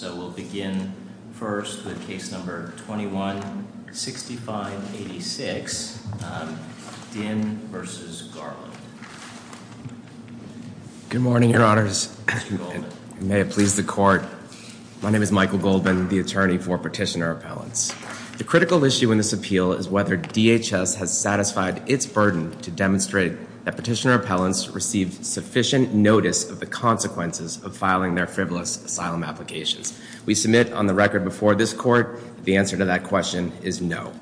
So we'll begin first with case number 21-6586, Dinn v. Garland. Good morning, your honors. May it please the court. My name is Michael Goldman, the attorney for petitioner appellants. The critical issue in this appeal is whether DHS has satisfied its burden to demonstrate that petitioner appellants received sufficient notice of the consequences of filing their frivolous asylum applications. We submit on the record before this court the answer to that question is no.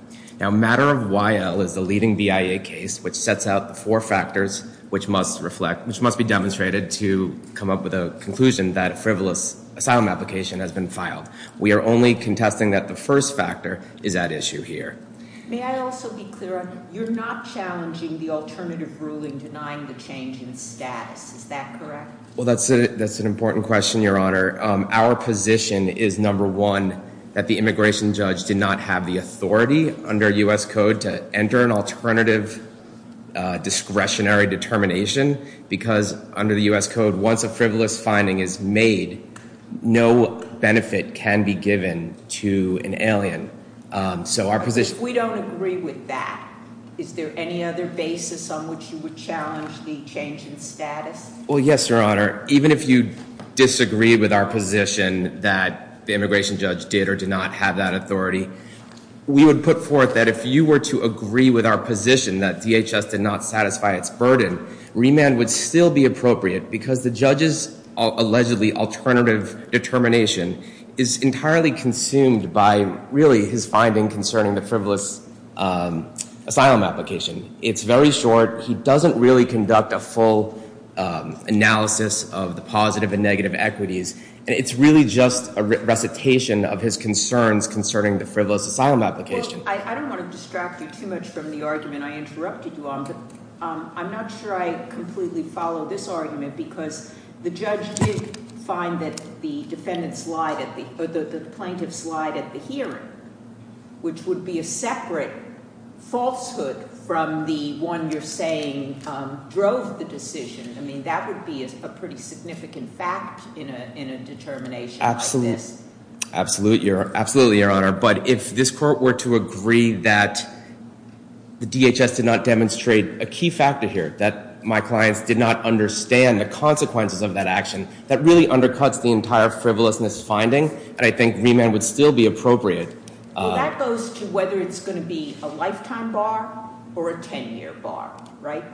Now matter of YL is the leading BIA case which sets out the four factors which must reflect, which must be demonstrated to come up with a conclusion that a frivolous asylum application has been filed. We are only contesting that the first factor is at issue here. May I also be clear, you're not challenging the alternative ruling denying the change in status, is that correct? Well that's an important question, your honor. Our position is, number one, that the immigration judge did not have the authority under U.S. code to enter an alternative discretionary determination. Because under the U.S. code, once a frivolous finding is made, no benefit can be given to an alien. We don't agree with that. Is there any other basis on which you would challenge the change in status? Well yes, your honor. Even if you disagree with our position that the immigration judge did or did not have that authority, we would put forth that if you were to agree with our position that DHS did not satisfy its burden, remand would still be appropriate because the judge's allegedly alternative determination is entirely consumed by really his finding concerning the frivolous asylum application. It's very short. He doesn't really conduct a full analysis of the positive and negative equities. It's really just a recitation of his concerns concerning the frivolous asylum application. I don't want to distract you too much from the argument I interrupted you on, but I'm not sure I completely follow this argument because the judge did find that the plaintiffs lied at the hearing, which would be a separate falsehood from the one you're saying drove the decision. I mean, that would be a pretty significant fact in a determination like this. Absolutely, your honor. But if this court were to agree that the DHS did not demonstrate a key factor here, that my clients did not understand the consequences of that action, that really undercuts the entire frivolousness finding, and I think remand would still be appropriate. Well, that goes to whether it's going to be a lifetime bar or a 10-year bar, right?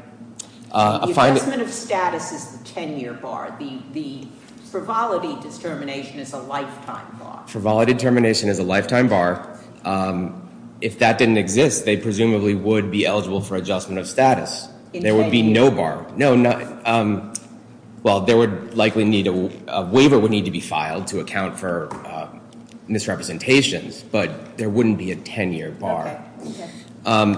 The adjustment of status is the 10-year bar. The frivolity determination is a lifetime bar. Frivolity determination is a lifetime bar. If that didn't exist, they presumably would be eligible for adjustment of status. In 10 years. There would be no bar. Well, a waiver would need to be filed to account for misrepresentations, but there wouldn't be a 10-year bar.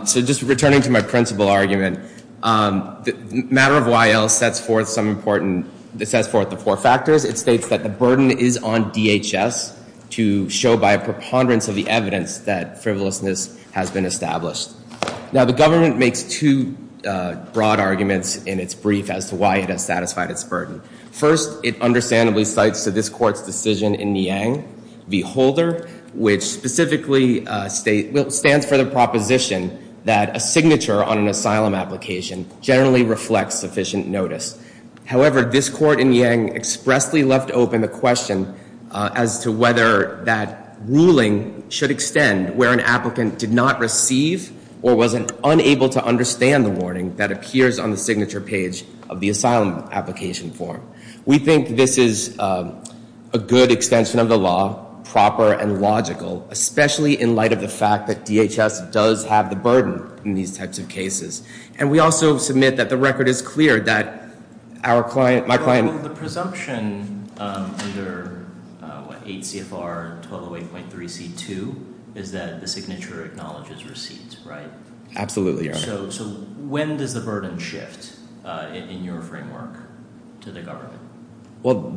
So just returning to my principal argument, the matter of Y.L. sets forth the four factors. It states that the burden is on DHS to show by a preponderance of the evidence that frivolousness has been established. Now, the government makes two broad arguments in its brief as to why it has satisfied its burden. First, it understandably cites to this court's decision in Niang v. Holder, which specifically stands for the proposition that a signature on an asylum application generally reflects sufficient notice. However, this court in Niang expressly left open the question as to whether that ruling should extend where an applicant did not receive or was unable to understand the warning that appears on the signature page of the asylum application form. We think this is a good extension of the law, proper and logical, especially in light of the fact that DHS does have the burden in these types of cases. And we also submit that the record is clear that our client, my client- Absolutely, Your Honor. So when does the burden shift in your framework to the government? Well,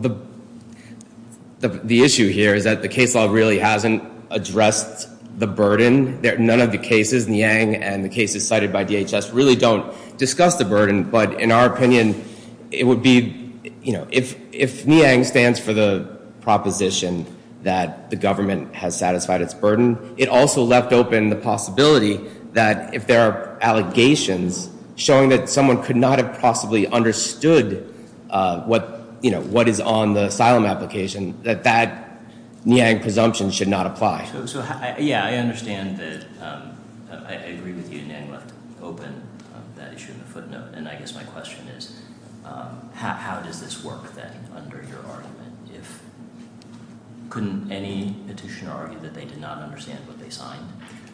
the issue here is that the case law really hasn't addressed the burden. None of the cases, Niang and the cases cited by DHS, really don't discuss the burden. But in our opinion, it would be, you know, if Niang stands for the proposition that the government has satisfied its burden, it also left open the possibility that if there are allegations showing that someone could not have possibly understood what, you know, what is on the asylum application, that that Niang presumption should not apply. So, yeah, I understand that, I agree with you, Niang left open that issue in the footnote. And I guess my question is, how does this work then under your argument? If, couldn't any petitioner argue that they did not understand what they signed?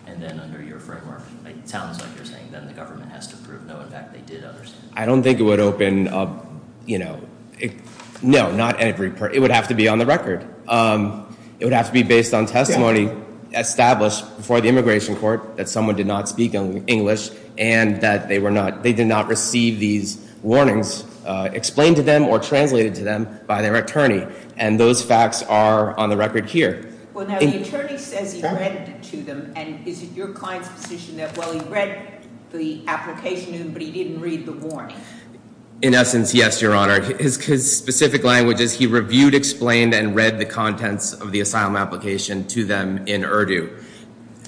And then under your framework, it sounds like you're saying then the government has to prove, no, in fact, they did understand. I don't think it would open, you know, no, not every, it would have to be on the record. It would have to be based on testimony established before the immigration court that someone did not speak English and that they were not, they did not receive these warnings explained to them or translated to them by their attorney. And those facts are on the record here. Well, now the attorney says he read it to them, and is it your client's position that, well, he read the application to them, but he didn't read the warning? In essence, yes, Your Honor. His specific language is he reviewed, explained, and read the contents of the asylum application to them in Urdu.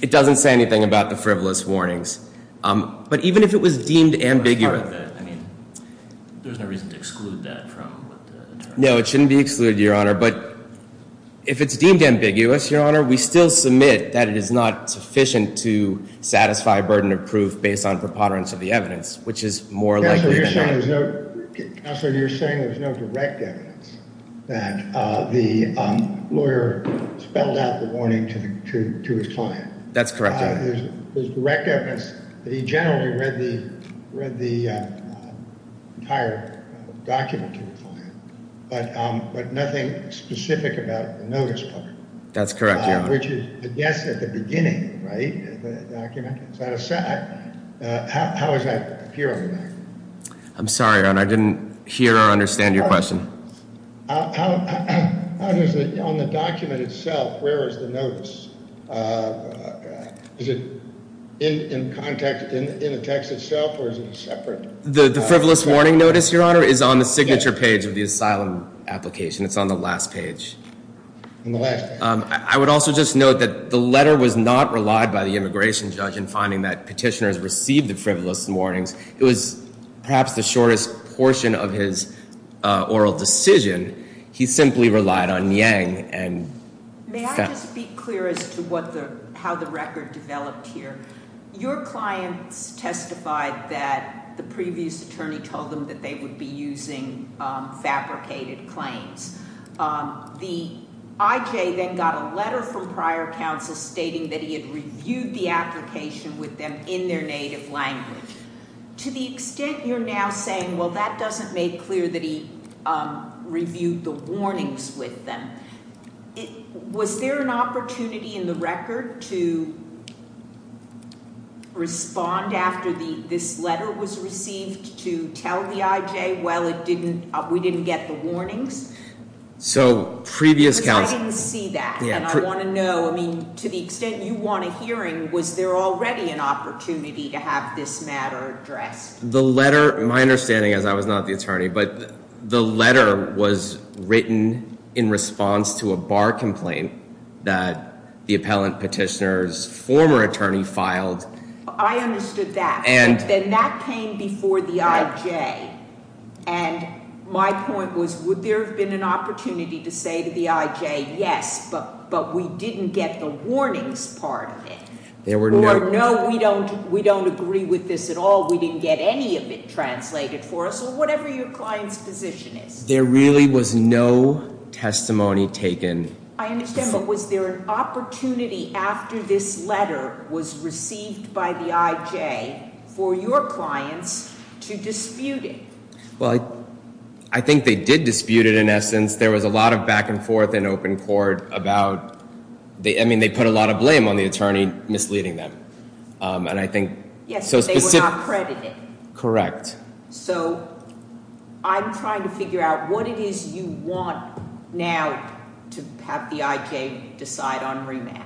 It doesn't say anything about the frivolous warnings. But even if it was deemed ambiguous. I mean, there's no reason to exclude that from what the attorney said. No, it shouldn't be excluded, Your Honor. But if it's deemed ambiguous, Your Honor, we still submit that it is not sufficient to satisfy burden of proof based on preponderance of the evidence, which is more likely than not. Counselor, you're saying there's no direct evidence that the lawyer spelled out the warning to his client. That's correct, Your Honor. There's direct evidence that he generally read the entire document to the client, but nothing specific about the notice part. That's correct, Your Honor. I'm sorry, Your Honor, I didn't hear or understand your question. The frivolous warning notice, Your Honor, is on the signature page of the asylum application. It's on the last page. I would also just note that the letter was not relied by the immigration judge in finding that petitioners received the frivolous warnings. It was perhaps the shortest portion of his oral decision. He simply relied on Yang. May I just be clear as to how the record developed here? Your clients testified that the previous attorney told them that they would be using fabricated claims. The IJ then got a letter from prior counsel stating that he had reviewed the application with them in their native language. To the extent you're now saying, well, that doesn't make clear that he reviewed the warnings with them, was there an opportunity in the record to respond after this letter was received to tell the IJ, well, we didn't get the warnings? I didn't see that, and I want to know, to the extent you want a hearing, was there already an opportunity to have this matter addressed? My understanding is I was not the attorney, but the letter was written in response to a bar complaint that the appellant petitioner's former attorney filed. I understood that. Then that came before the IJ, and my point was, would there have been an opportunity to say to the IJ, yes, but we didn't get the warnings part of it? Or no, we don't agree with this at all, we didn't get any of it translated for us, or whatever your client's position is. There really was no testimony taken. I understand, but was there an opportunity after this letter was received by the IJ for your clients to dispute it? Well, I think they did dispute it in essence. There was a lot of back and forth in open court about, I mean, they put a lot of blame on the attorney misleading them. Yes, but they were not credited. Correct. So I'm trying to figure out what it is you want now to have the IJ decide on remand.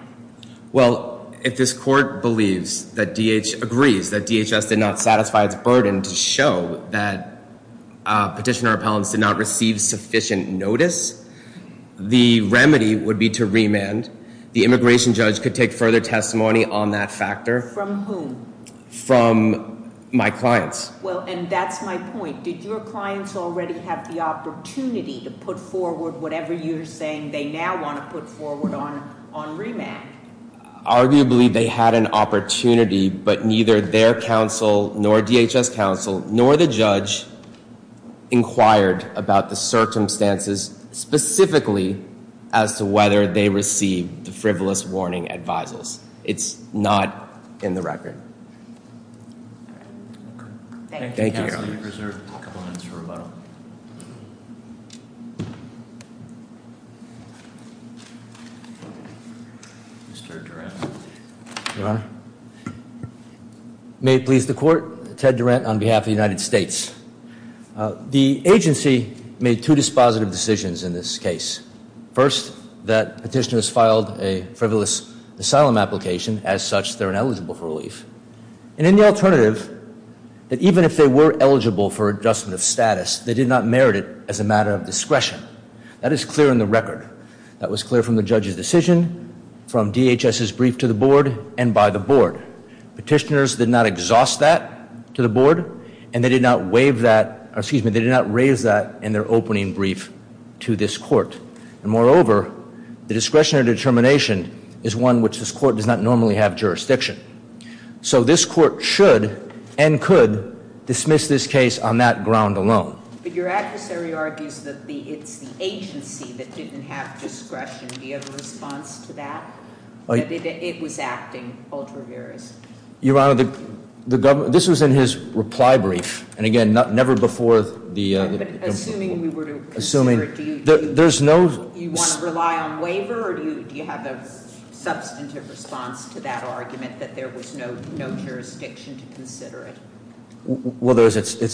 Well, if this court agrees that DHS did not satisfy its burden to show that petitioner appellants did not receive sufficient notice, the remedy would be to remand. The immigration judge could take further testimony on that factor. From whom? From my clients. Well, and that's my point. Did your clients already have the opportunity to put forward whatever you're saying they now want to put forward on remand? Arguably, they had an opportunity, but neither their counsel nor DHS counsel nor the judge inquired about the circumstances specifically as to whether they received the frivolous warning advisers. It's not in the record. Thank you. Mr. Durant. Your Honor. May it please the court, Ted Durant on behalf of the United States. The agency made two dispositive decisions in this case. First, that petitioners filed a frivolous asylum application. As such, they're ineligible for relief. And in the alternative, that even if they were eligible for adjustment of status, they did not merit it as a matter of discretion. That is clear in the record. That was clear from the judge's decision, from DHS's brief to the board, and by the board. Petitioners did not exhaust that to the board, and they did not raise that in their opening brief to this court. And moreover, the discretionary determination is one which this court does not normally have jurisdiction. So this court should and could dismiss this case on that ground alone. But your adversary argues that it's the agency that didn't have discretion. Do you have a response to that? It was acting ultra-various. Your Honor, this was in his reply brief. And again, never before the- Assuming we were to consider it, do you want to rely on waiver? Or do you have a substantive response to that argument that there was no jurisdiction to consider it? Well, there is.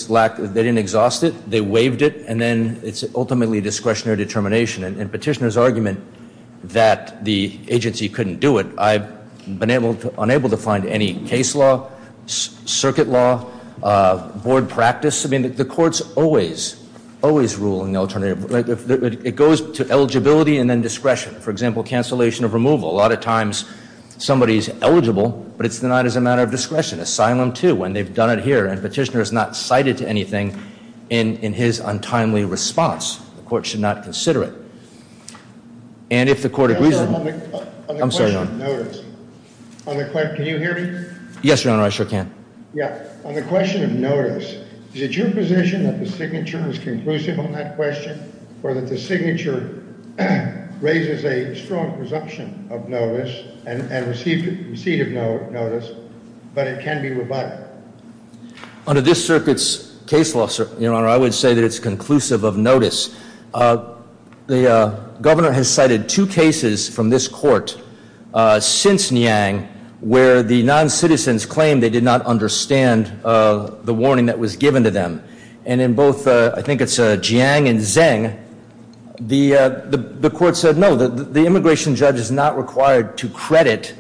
They didn't exhaust it. They waived it. And then it's ultimately discretionary determination. In Petitioner's argument that the agency couldn't do it, I've been unable to find any case law, circuit law, board practice. I mean, the court's always, always ruling alternative. It goes to eligibility and then discretion. For example, cancellation of removal. A lot of times somebody's eligible, but it's denied as a matter of discretion. Asylum too, when they've done it here. And Petitioner has not cited anything in his untimely response. The court should not consider it. And if the court agrees- I'm sorry, Your Honor. Can you hear me? Yes, Your Honor, I sure can. Yeah. On the question of notice, is it your position that the signature is conclusive on that question? Or that the signature raises a strong presumption of notice and receipt of notice, but it can be rebutted? Under this circuit's case law, Your Honor, I would say that it's conclusive of notice. The governor has cited two cases from this court since Niang where the non-citizens claimed they did not understand the warning that was given to them. And in both, I think it's Jiang and Zheng, the court said no, the immigration judge is not required to credit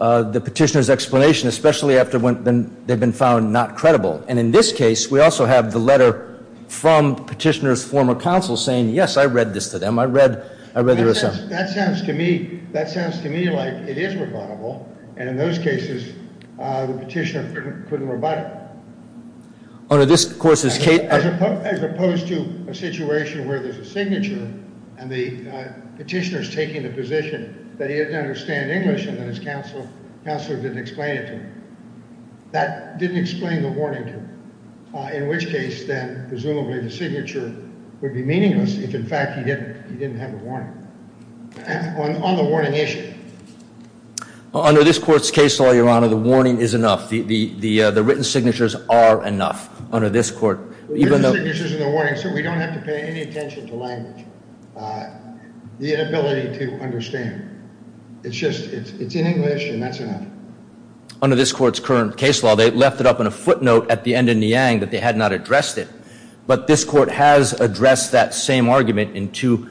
the Petitioner's explanation, especially after they've been found not credible. And in this case, we also have the letter from Petitioner's former counsel saying, yes, I read this to them. I read their assumption. That sounds to me like it is rebuttable. And in those cases, the Petitioner couldn't rebut it. Under this court's case- As opposed to a situation where there's a signature and the Petitioner's taking the position that he didn't understand English and his counsel didn't explain it to him. That didn't explain the warning to him. In which case, then, presumably the signature would be meaningless if, in fact, he didn't have a warning. On the warning issue. Under this court's case law, Your Honor, the warning is enough. The written signatures are enough. Under this court, even though- The written signatures are the warning, so we don't have to pay any attention to language. The inability to understand. It's just, it's in English and that's enough. Under this court's current case law, they left it up in a footnote at the end of Niang that they had not addressed it. But this court has addressed that same argument in two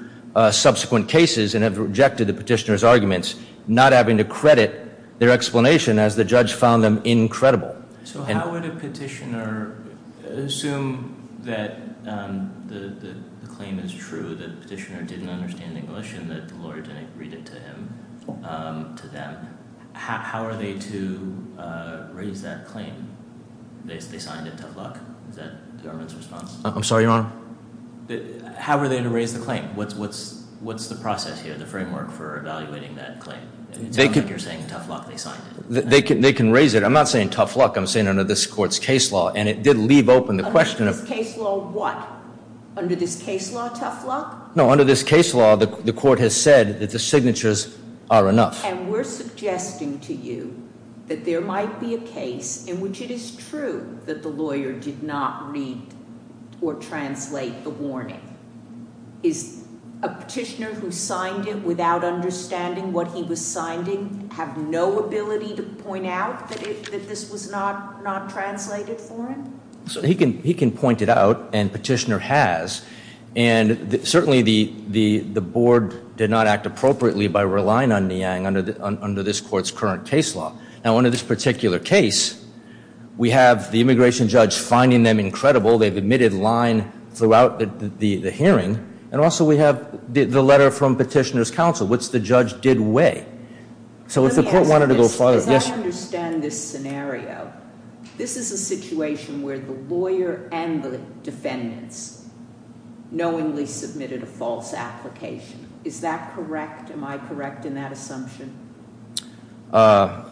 subsequent cases and have rejected the Petitioner's arguments, not having to credit their explanation as the judge found them incredible. So how would a Petitioner assume that the claim is true, that the Petitioner didn't understand English, and that the lawyer didn't read it to him, to them? How are they to raise that claim? They signed it, tough luck. Is that the government's response? I'm sorry, Your Honor? How are they to raise the claim? What's the process here, the framework for evaluating that claim? It sounds like you're saying tough luck, they signed it. They can raise it. I'm not saying tough luck, I'm saying under this court's case law, and it did leave open the question of Under this case law, what? Under this case law, tough luck? No, under this case law, the court has said that the signatures are enough. And we're suggesting to you that there might be a case in which it is true that the lawyer did not read or translate the warning. Is a Petitioner who signed it without understanding what he was signing have no ability to point out that this was not translated for him? He can point it out, and Petitioner has. And certainly the Board did not act appropriately by relying on Niang under this court's current case law. Now under this particular case, we have the immigration judge finding them incredible. They've omitted line throughout the hearing. And also we have the letter from Petitioner's counsel, which the judge did weigh. So if the court wanted to go further. As I understand this scenario, this is a situation where the lawyer and the defendants knowingly submitted a false application. Is that correct? Am I correct in that assumption?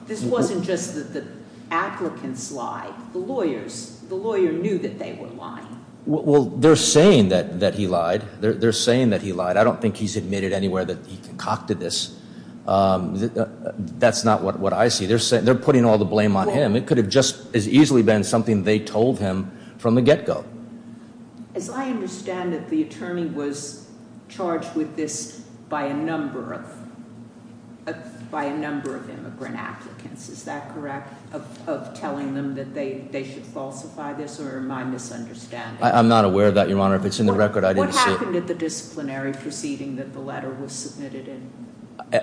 This wasn't just that the applicants lied. The lawyers, the lawyer knew that they were lying. Well, they're saying that he lied. They're saying that he lied. I don't think he's admitted anywhere that he concocted this. That's not what I see. They're putting all the blame on him. It could have just as easily been something they told him from the get-go. As I understand it, the attorney was charged with this by a number of immigrant applicants. Is that correct? Of telling them that they should falsify this? Or am I misunderstanding? I'm not aware of that, Your Honor. If it's in the record, I didn't see it. What happened at the disciplinary proceeding that the letter was submitted in?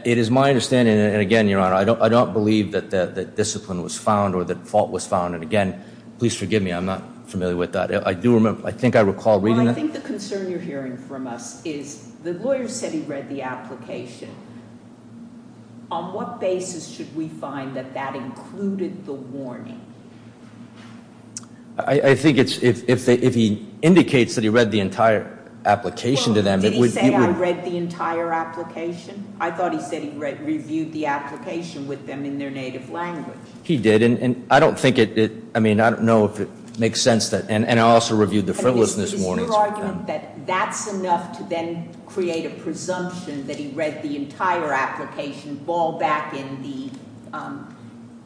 It is my understanding, and again, Your Honor, I don't believe that discipline was found or that fault was found. And again, please forgive me, I'm not familiar with that. I do remember, I think I recall reading that. Well, I think the concern you're hearing from us is the lawyer said he read the application. On what basis should we find that that included the warning? I think it's if he indicates that he read the entire application to them. Well, did he say, I read the entire application? I thought he said he reviewed the application with them in their native language. He did, and I don't think it, I mean, I don't know if it makes sense that, and I also reviewed the frivolousness warnings. Is your argument that that's enough to then create a presumption that he read the entire application, ball back in the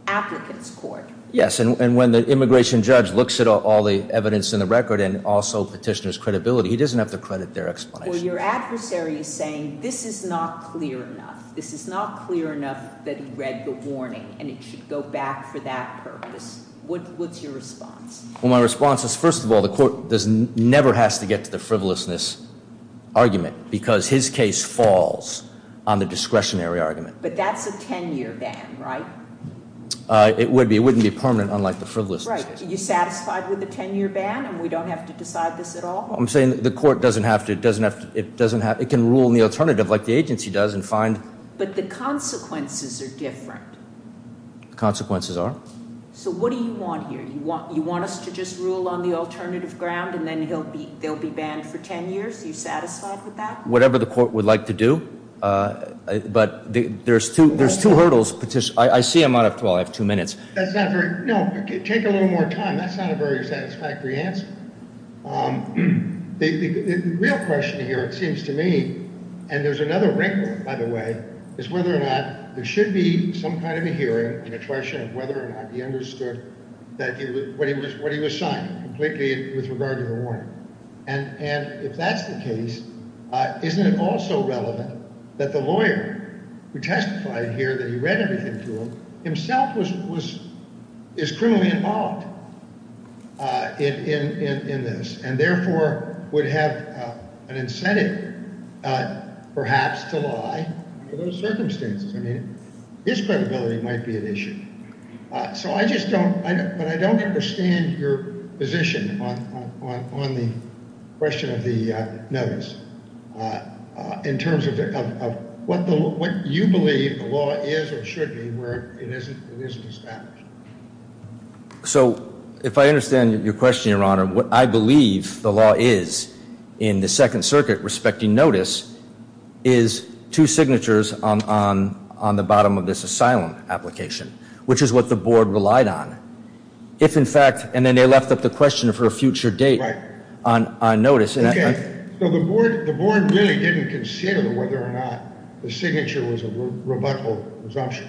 applicant's court? Yes, and when the immigration judge looks at all the evidence in the record and also petitioner's credibility, he doesn't have to credit their explanation. Well, your adversary is saying this is not clear enough. This is not clear enough that he read the warning, and it should go back for that purpose. What's your response? Well, my response is, first of all, the court never has to get to the frivolousness argument because his case falls on the discretionary argument. But that's a 10-year ban, right? It would be. It wouldn't be permanent, unlike the frivolousness case. Right. Are you satisfied with the 10-year ban, and we don't have to decide this at all? I'm saying the court doesn't have to. It can rule in the alternative like the agency does and find. But the consequences are different. The consequences are. So what do you want here? You want us to just rule on the alternative ground, and then they'll be banned for 10 years? Are you satisfied with that? Whatever the court would like to do, but there's two hurdles. I see them. I have two minutes. No, take a little more time. That's not a very satisfactory answer. The real question here, it seems to me, and there's another wrinkle, by the way, is whether or not there should be some kind of a hearing, an attrition of whether or not he understood what he was signing completely with regard to the warning. And if that's the case, isn't it also relevant that the lawyer who testified here that he read everything to him himself is criminally involved in this and therefore would have an incentive perhaps to lie for those circumstances? I mean, his credibility might be at issue. But I don't understand your position on the question of the notice in terms of what you believe the law is or should be where it isn't established. So if I understand your question, Your Honor, what I believe the law is in the Second Circuit respecting notice is two signatures on the bottom of this asylum application. Which is what the board relied on. If, in fact, and then they left up the question of her future date on notice. So the board really didn't consider whether or not the signature was a rebuttal presumption.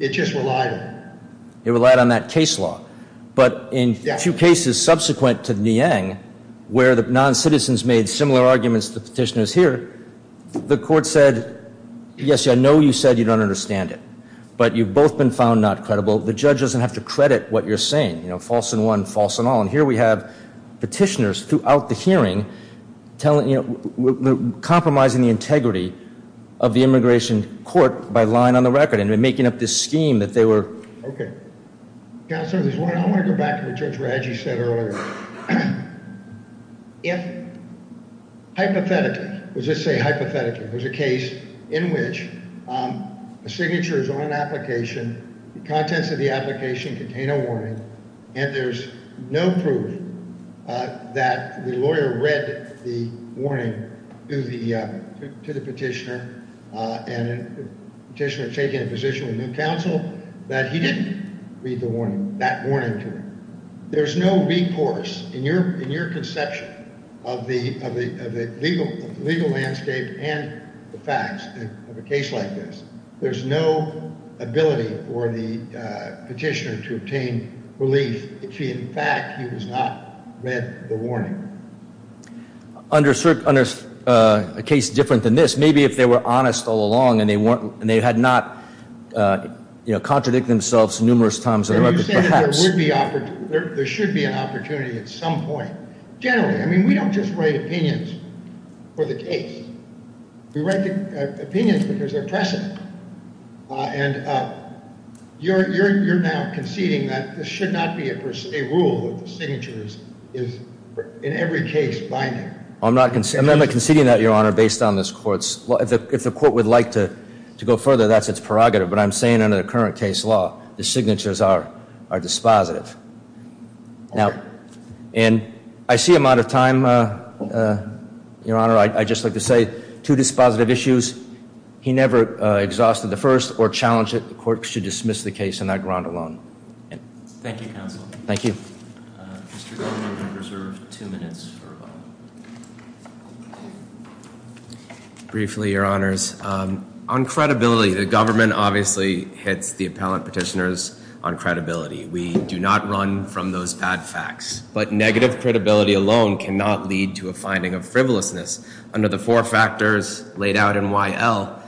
It just relied on it. It relied on that case law. But in a few cases subsequent to Niang, where the non-citizens made similar arguments to the petitioners here, the court said, yes, I know you said you don't understand it. But you've both been found not credible. The judge doesn't have to credit what you're saying. You know, false in one, false in all. And here we have petitioners throughout the hearing compromising the integrity of the immigration court by lying on the record and making up this scheme that they were. OK. Counselor, I want to go back to what Judge Radji said earlier. If hypothetically, let's just say hypothetically, there's a case in which a signature is on an application. The contents of the application contain a warning and there's no proof that the lawyer read the warning to the petitioner. And the petitioner is taking a position with new counsel that he didn't read the warning, that warning to him. There's no recourse in your conception of the legal landscape and the facts of a case like this. There's no ability for the petitioner to obtain relief if, in fact, he has not read the warning. Under a case different than this, maybe if they were honest all along and they had not contradict themselves numerous times, perhaps. There should be an opportunity at some point. Generally, I mean, we don't just write opinions for the case. We write the opinions because they're pressing. And you're now conceding that this should not be a rule that the signature is in every case binding. I'm not conceding that, Your Honor, based on this court's law. If the court would like to go further, that's its prerogative. But I'm saying under the current case law, the signatures are dispositive. Now, and I see I'm out of time, Your Honor. I'd just like to say two dispositive issues. He never exhausted the first or challenged it. The court should dismiss the case on that ground alone. Thank you, counsel. Thank you. Briefly, Your Honors, on credibility, the government obviously hits the appellant petitioners on credibility. We do not run from those bad facts. But negative credibility alone cannot lead to a finding of frivolousness. Under the four factors laid out in Y.L.,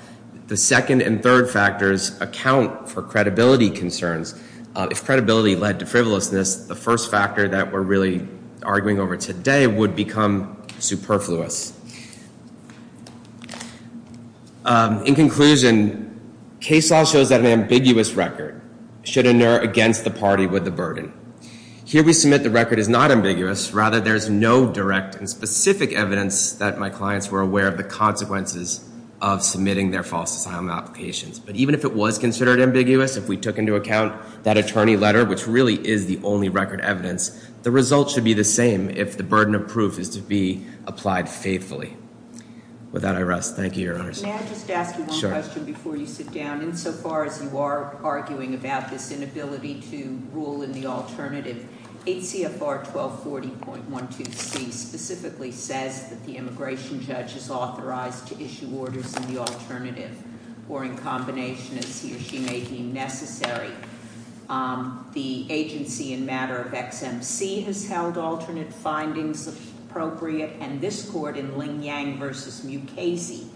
the second and third factors account for credibility concerns. If credibility led to frivolousness, the first factor that we're really arguing over today would become superfluous. In conclusion, case law shows that an ambiguous record should inure against the party with the burden. Here we submit the record is not ambiguous. Rather, there is no direct and specific evidence that my clients were aware of the consequences of submitting their false asylum applications. But even if it was considered ambiguous, if we took into account that attorney letter, which really is the only record evidence, the result should be the same if the burden of proof is to be applied faithfully. With that, I rest. Thank you, Your Honors. May I just ask you one question before you sit down? Sure. Insofar as you are arguing about this inability to rule in the alternative, ACFR 1240.123 specifically says that the immigration judge is authorized to issue orders in the alternative, or in combination, as he or she may deem necessary. The agency in matter of XMC has held alternate findings appropriate, and this court in Ling Yang v.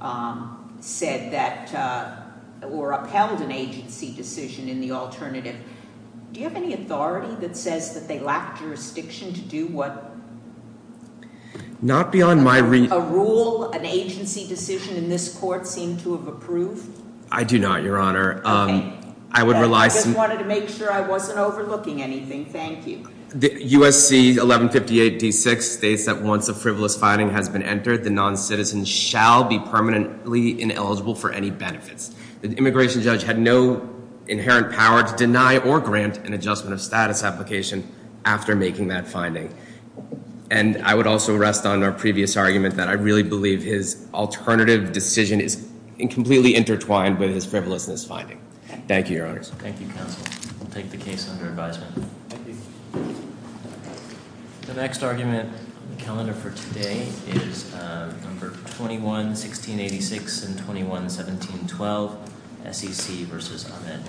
Mukasey said that, or upheld an agency decision in the alternative. Do you have any authority that says that they lack jurisdiction to do what? Not beyond my- A rule, an agency decision in this court seem to have approved? I do not, Your Honor. Okay. I would rely- I just wanted to make sure I wasn't overlooking anything. Thank you. USC 1158 D6 states that once a frivolous finding has been entered, the noncitizen shall be permanently ineligible for any benefits. The immigration judge had no inherent power to deny or grant an adjustment of status application after making that finding. And I would also rest on our previous argument that I really believe his alternative decision is completely intertwined with his frivolousness finding. Thank you, Your Honor. Thank you, Counsel. I'll take the case under advisement. The next argument on the calendar for today is number 21-1686 and 21-1712, SEC v. Ahmed.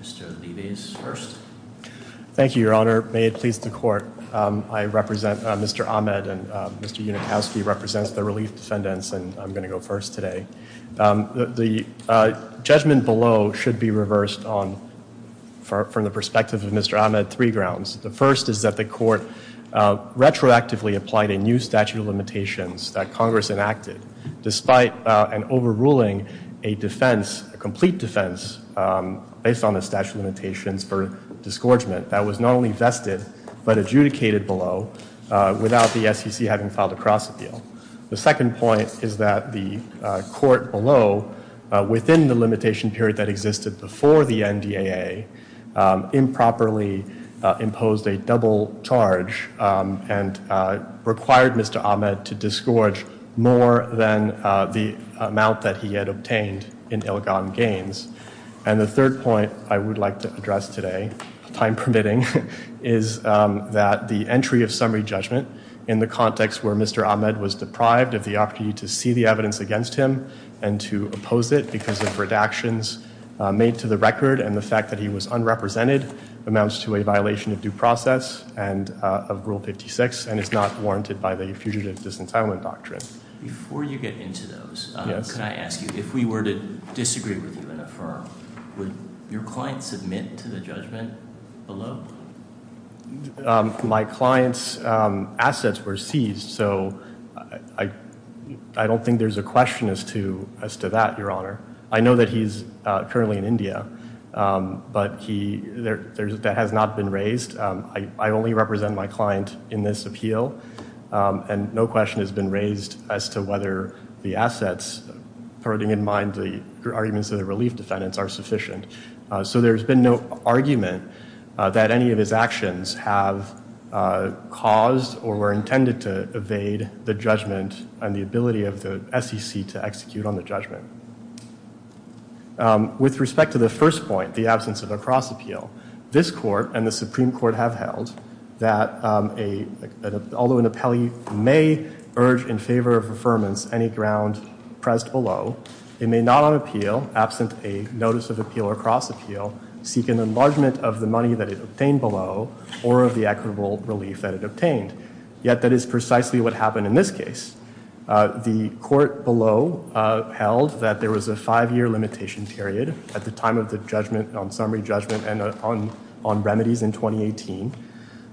Mr. Levy is first. Thank you, Your Honor. May it please the Court. I represent Mr. Ahmed and Mr. Unikowski represents the relief defendants, and I'm going to go first today. The judgment below should be reversed on, from the perspective of Mr. Ahmed, three grounds. The first is that the Court retroactively applied a new statute of limitations that Congress enacted despite an overruling a defense, a complete defense based on the statute of limitations for disgorgement that was not only vested but adjudicated below without the SEC having filed a cross-appeal. The second point is that the Court below, within the limitation period that existed before the NDAA, improperly imposed a double charge and required Mr. Ahmed to disgorge more than the amount that he had obtained in ill-gotten gains. And the third point I would like to address today, time permitting, is that the entry of summary judgment in the context where Mr. Ahmed was deprived of the opportunity to see the evidence against him and to oppose it because of redactions made to the record and the fact that he was unrepresented amounts to a violation of due process and of Rule 56 and is not warranted by the Fugitive Disentitlement Doctrine. Before you get into those, can I ask you, if we were to disagree with you and affirm, would your client submit to the judgment below? My client's assets were seized, so I don't think there's a question as to that, Your Honor. I know that he's currently in India, but that has not been raised. I only represent my client in this appeal, and no question has been raised as to whether the assets, putting in mind the arguments of the relief defendants, are sufficient. So there's been no argument that any of his actions have caused or were intended to evade the judgment and the ability of the SEC to execute on the judgment. With respect to the first point, the absence of a cross appeal, this Court and the Supreme Court have held that although an appellee may urge in favor of affirmance any ground pressed below, it may not on appeal, absent a notice of appeal or cross appeal, seek an enlargement of the money that it obtained below or of the equitable relief that it obtained. Yet that is precisely what happened in this case. The Court below held that there was a five-year limitation period at the time of the judgment, on summary judgment and on remedies in 2018.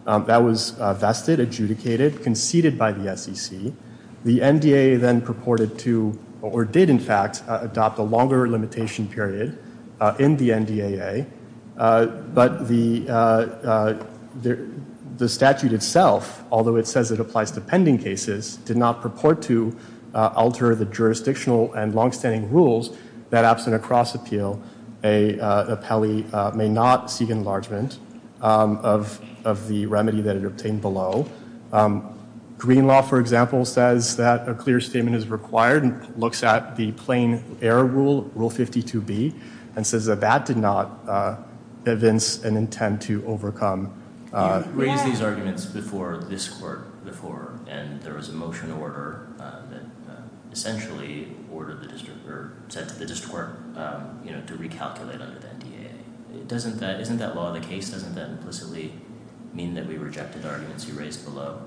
That was vested, adjudicated, conceded by the SEC. The NDAA then purported to, or did in fact, adopt a longer limitation period in the NDAA. But the statute itself, although it says it applies to pending cases, did not purport to alter the jurisdictional and longstanding rules that absent a cross appeal, an appellee may not seek enlargement of the remedy that it obtained below. Green law, for example, says that a clear statement is required and looks at the plain error rule, Rule 52B, and says that that did not evince an intent to overcome. You raised these arguments before this Court before and there was a motion order that essentially ordered the district, or said to the district court, you know, to recalculate under the NDAA. Doesn't that, isn't that law of the case, doesn't that implicitly mean that we rejected arguments you raised below?